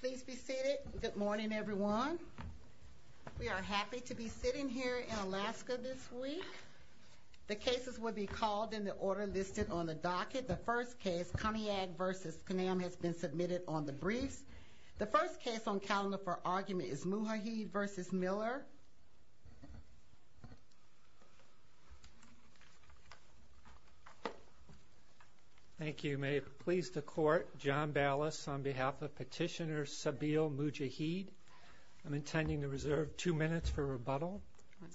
Please be seated. Good morning, everyone. We are happy to be sitting here in Alaska this week. The cases will be called in the order listed on the docket. The first case, Conniag v. Conam, has been submitted on the briefs. The first case on calendar for argument is Mujahid v. Miller. Thank you. May it please the Court, John Ballas, on behalf of Petitioner Sabil Mujahid. I'm intending to reserve two minutes for rebuttal.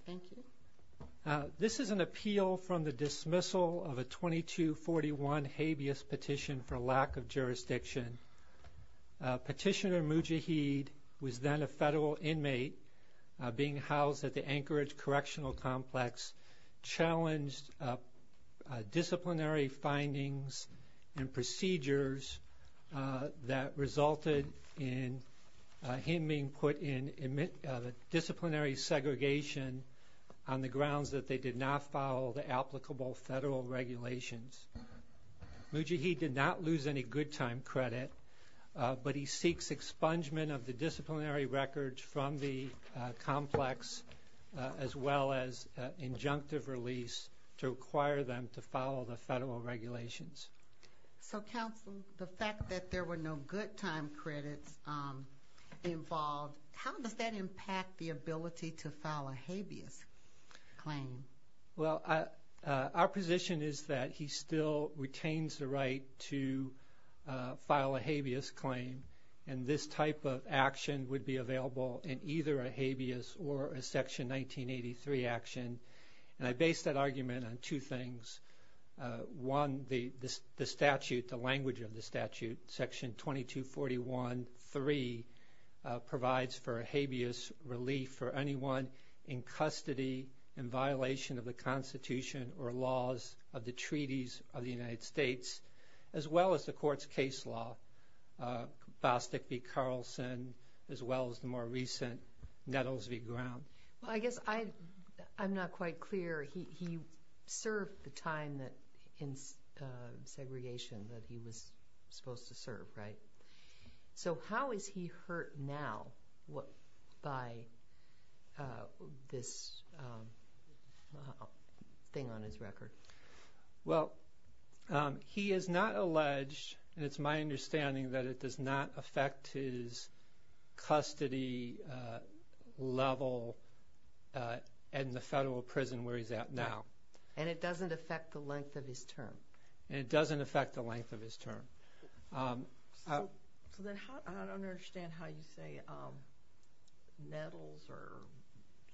Thank you. This is an appeal from the dismissal of a 2241 habeas petition for lack of jurisdiction. Petitioner Mujahid was then a federal inmate being housed at the Anchorage Correctional that resulted in him being put in disciplinary segregation on the grounds that they did not follow the applicable federal regulations. Mujahid did not lose any good time credit, but he seeks expungement of the disciplinary records from the complex as well as injunctive release to require them to follow the federal regulations. So, counsel, the fact that there were no good time credits involved, how does that impact the ability to file a habeas claim? Well, our position is that he still retains the right to file a habeas claim, and this type of action would be available in either a habeas or a Section 1983 action, and I base that argument on two things. One, the statute, the language of the statute, Section 2241.3, provides for a habeas relief for anyone in custody in violation of the Constitution or laws of the treaties of the United States as well as the Court's case law, Bostic v. Carlson, as well as the more recent Nettles v. Ground. Well, I guess I'm not quite clear. He served the time in segregation that he was supposed to serve, right? So how is he hurt now by this thing on his record? Well, he is not alleged, and it's my understanding that it does not affect his custody level in the federal prison where he's at now. And it doesn't affect the length of his term? And it doesn't affect the length of his term. So then I don't understand how you say Nettles or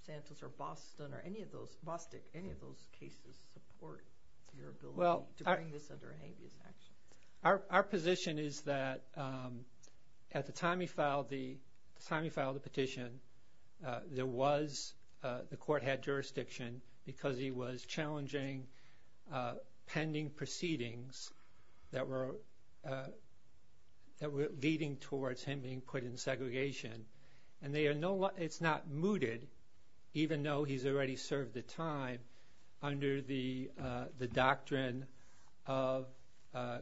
Santos or Boston or any of those, Bostic, any of those cases support your ability to bring this under a habeas action? Our position is that at the time he filed the petition, there was, the Court had jurisdiction because he was challenging pending proceedings that were leading towards him being put in segregation. And they are no longer, it's not mooted, even though he's already served the time under the doctrine of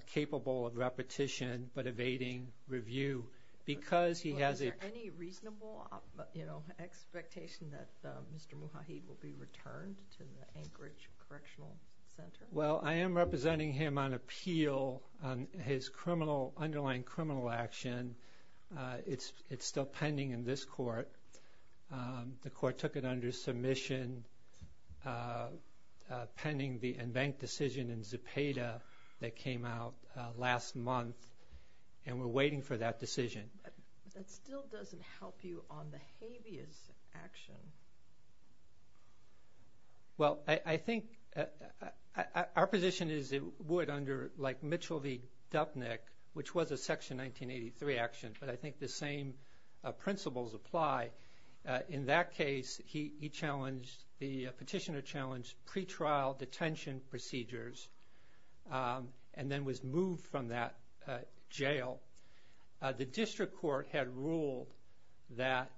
capable of repetition but evading review. Is there any reasonable expectation that Mr. Muhaid will be returned to the Anchorage Correctional Center? Well, I am representing him on appeal on his underlying criminal action. It's still pending in this Court. The Court took it under submission pending the Enbank decision in Zepeda that came out last month, and we're waiting for that decision. But that still doesn't help you on the habeas action. Well, I think our position is it would under like Mitchell v. Dupnick, which was a Section 1983 action, but I think the same principles apply. In that case, he challenged, the petitioner challenged pretrial detention procedures and then was moved from that jail. The District Court had ruled that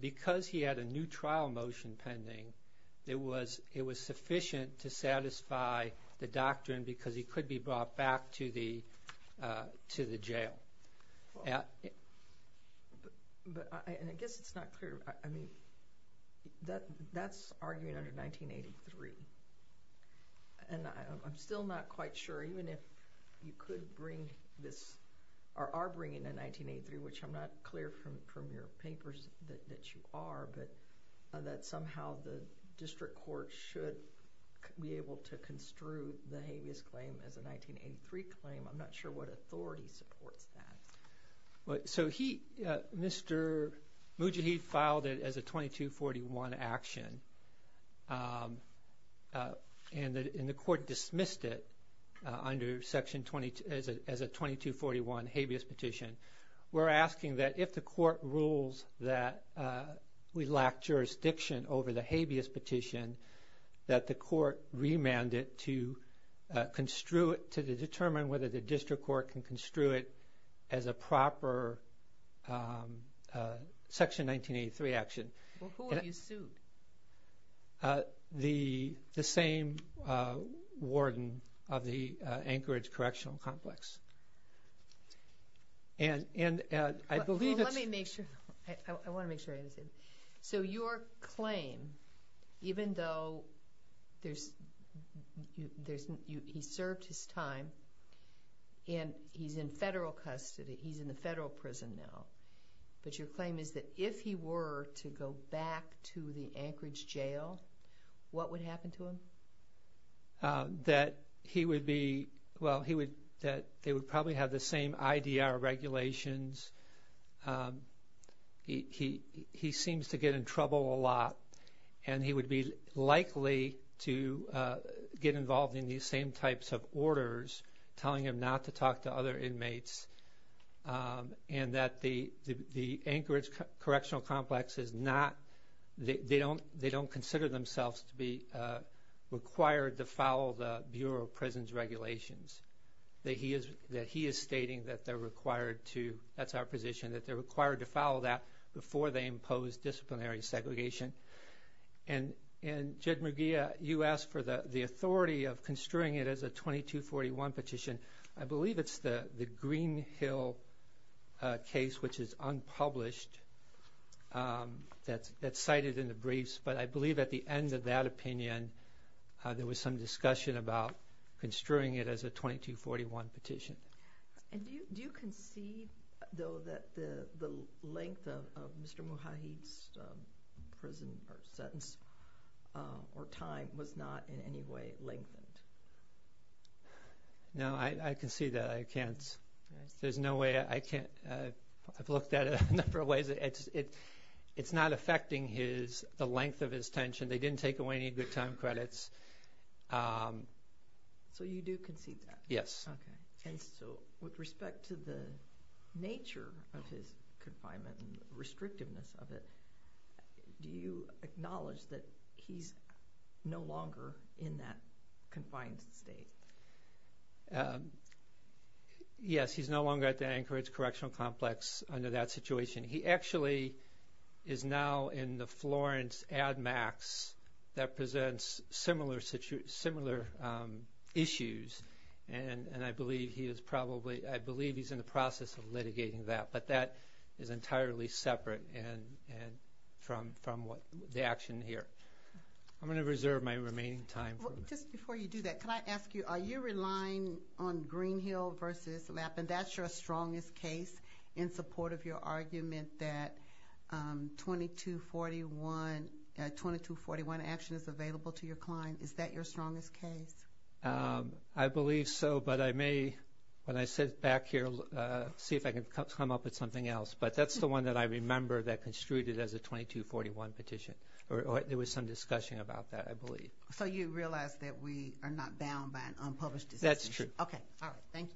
because he had a new trial motion pending, it was sufficient to satisfy the claim. But I guess it's not clear. I mean, that's arguing under 1983. And I'm still not quite sure even if you could bring this or are bringing a 1983, which I'm not clear from your papers that you are, but that somehow the District Court should be able to So he, Mr. Mujahid filed it as a 2241 action. And the Court dismissed it under Section 22, as a 2241 habeas petition. We're asking that if the Court rules that we lack jurisdiction over the habeas petition, that the Court remand it to to determine whether the District Court can construe it as a proper Section 1983 action. Well, who have you sued? The same warden of the Anchorage Correctional Complex. And I believe it's Well, let me make sure. I want to make sure I understand. So your claim, even though there's, he served his time and he's in federal custody, he's in the federal prison now. But your claim is that if he were to go back to the Anchorage jail, what would happen to him? That he would be, well, he would, that they would probably have the same IDR regulations. He seems to get in trouble a lot and he would be likely to get involved in these same types of orders, telling him not to talk to other inmates. And that the Anchorage Correctional Complex is not, they don't consider themselves to be required to follow the Bureau of Prisons regulations. That he is stating that they're required to, that's our position, that they're required to follow that before they impose disciplinary segregation. And Jed Mugia, you asked for the authority of construing it as a 2241 petition. I believe it's the Green Hill case, which is unpublished, that's cited in the briefs. But I believe at the end of that opinion, there was some discussion about construing it as a 2241 petition. And do you concede, though, that the length of Mr. Mujahid's prison or sentence or time was not in any way lengthened? No, I concede that. I can't, there's no way, I can't, I've looked at it a number of ways. It's not affecting his, the length of his tension. They didn't take away any good time credits. So you do concede that? Yes. Okay. And so with respect to the nature of his confinement and the restrictiveness of it, do you acknowledge that he's no longer in that confined state? Yes, he's no longer at the Anchorage Correctional Complex under that situation. He actually is now in the Florence Ad Max that presents similar issues. And I believe he is probably, I believe he's in the process of litigating that. But that is entirely separate from the action here. I'm going to reserve my remaining time. Just before you do that, can I ask you, are you relying on Green Hill versus Lappin? That's your 2241, 2241 action is available to your client. Is that your strongest case? I believe so. But I may, when I sit back here, see if I can come up with something else. But that's the one that I remember that construed it as a 2241 petition. Or there was some discussion about that, I believe. So you realize that we are not bound by an unpublished decision? That's true. Okay. All right. Thank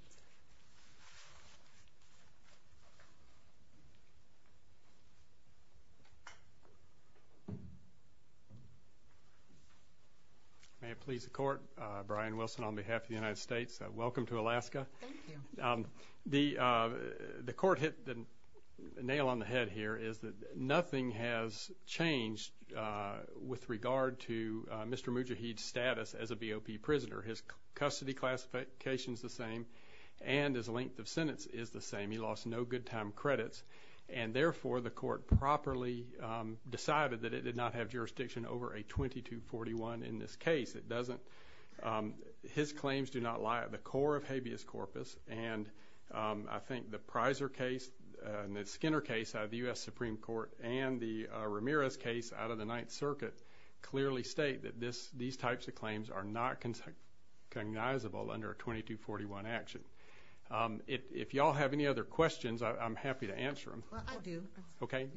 you. May it please the Court, Brian Wilson on behalf of the United States, welcome to Alaska. Thank you. The Court hit the nail on the head here is that nothing has changed with regard to Mr. Mujahid's status as a VOP prisoner. His custody classification is the same and his length of properly decided that it did not have jurisdiction over a 2241 in this case. His claims do not lie at the core of habeas corpus. And I think the Prizer case and the Skinner case out of the U.S. Supreme Court and the Ramirez case out of the Ninth Circuit clearly state that these types of claims are not cognizable under a 2241 action. If y'all have any other questions, I'm happy to answer them. Well, I do. Okay.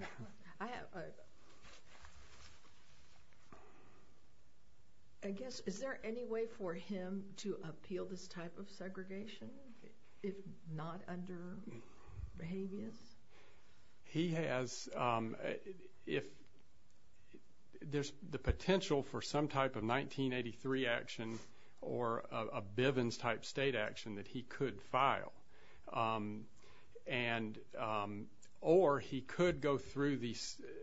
I guess, is there any way for him to appeal this type of segregation if not under habeas? He has, if there's the potential for some type of 1983 action or a Bivens-type state action that he could file. Or he could go through the,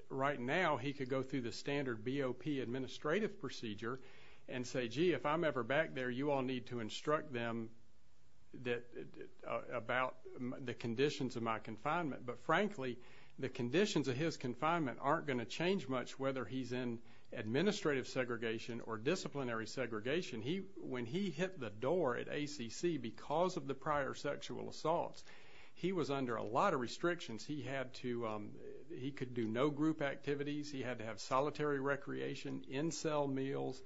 right now, he could go through the standard BOP administrative procedure and say, gee, if I'm ever back there, you all need to instruct them about the conditions of my confinement. But frankly, the conditions of his confinement aren't going to change much whether he's in administrative segregation or disciplinary segregation. When he hit the door at ACC because of the prior sexual assaults, he was under a lot of restrictions. He had to, he could do no group activities. He had to have solitary recreation, in-cell meals.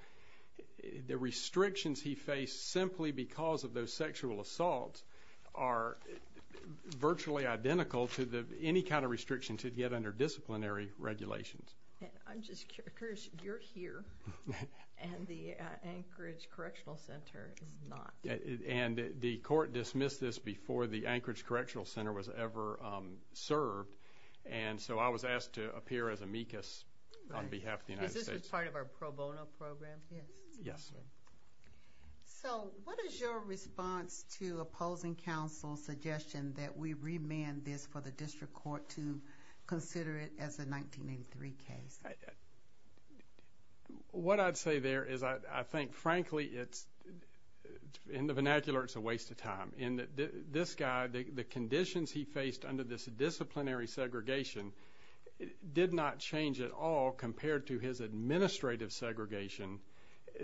The restrictions he faced simply because of those sexual assaults are virtually identical to any kind of restriction to get under disciplinary regulations. I'm just curious, you're here and the Anchorage Correctional Center is not. And the court dismissed this before the Anchorage Correctional Center was ever served. And so, I was asked to appear as amicus on behalf of the United States. Is this part of our pro bono program? Yes. Yes. So, what is your response to opposing counsel's suggestion that we remand this for the district court to consider it as a 1983 case? What I'd say there is I think, frankly, it's, in the vernacular, it's a waste of time. And this guy, the conditions he faced under this disciplinary segregation did not change at all compared to his administrative segregation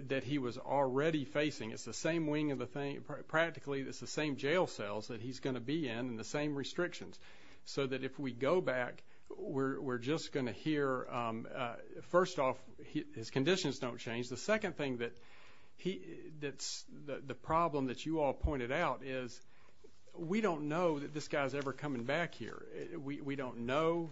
that he was already facing. It's the same wing of the thing. Practically, it's the same jail cells that he's going to be in and the same restrictions. So that if we go back, we're just going to hear, first off, his conditions don't change. The second thing that's the problem that you all pointed out is we don't know that this guy's ever coming back here. We don't know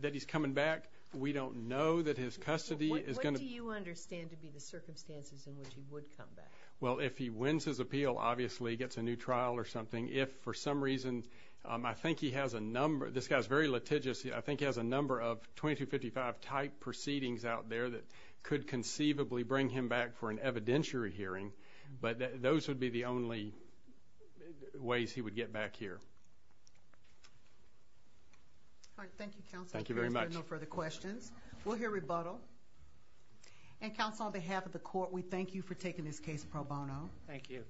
that he's coming back. We don't know that his custody is going to What do you understand to be the circumstances in which he would come back? Well, if he wins his appeal, obviously, gets a new trial or something. If, for some reason, I think he has a number, this guy's very litigious. I think he has a number of 2255 type proceedings out there that could conceivably bring him back for an evidentiary hearing. But those would be the only ways he would get back here. All right. Thank you, counsel. Thank you very much. No further questions. We'll hear rebuttal. And counsel, on behalf of the court, we thank you for taking this case pro bono. Thank you.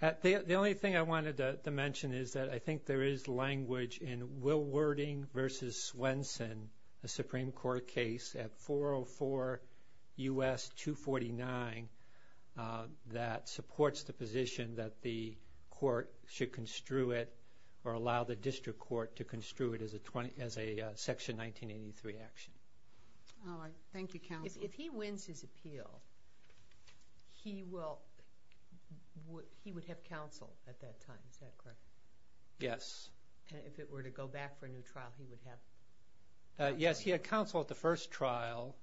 The only thing I wanted to mention is that I think there is language in Will Wording v. Swenson, a Supreme Court case at 404 U.S. 249, that supports the position that the court should construe it or allow the district court to construe it as a Section 1983 action. All right. Thank you, counsel. If he wins his appeal, he would have counsel at that time, is that correct? Yes. If it were to go back for a new trial, he would have counsel? Yes, he had counsel at the first trial.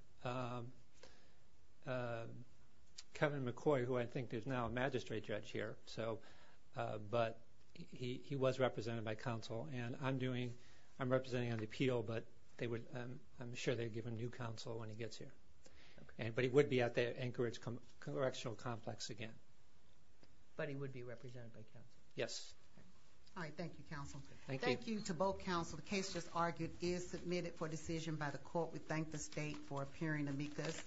Kevin McCoy, who I think is now a magistrate judge here, but he was represented by counsel. I'm representing on the appeal, but I'm sure they'd give him new counsel when he gets here. But he would be out there at Anchorage Congressional Complex again. But he would be represented by counsel? Yes. All right. Thank you, counsel. Thank you to both counsel. The case just argued is submitted for decision by the court. We thank the state for appearing to meet this.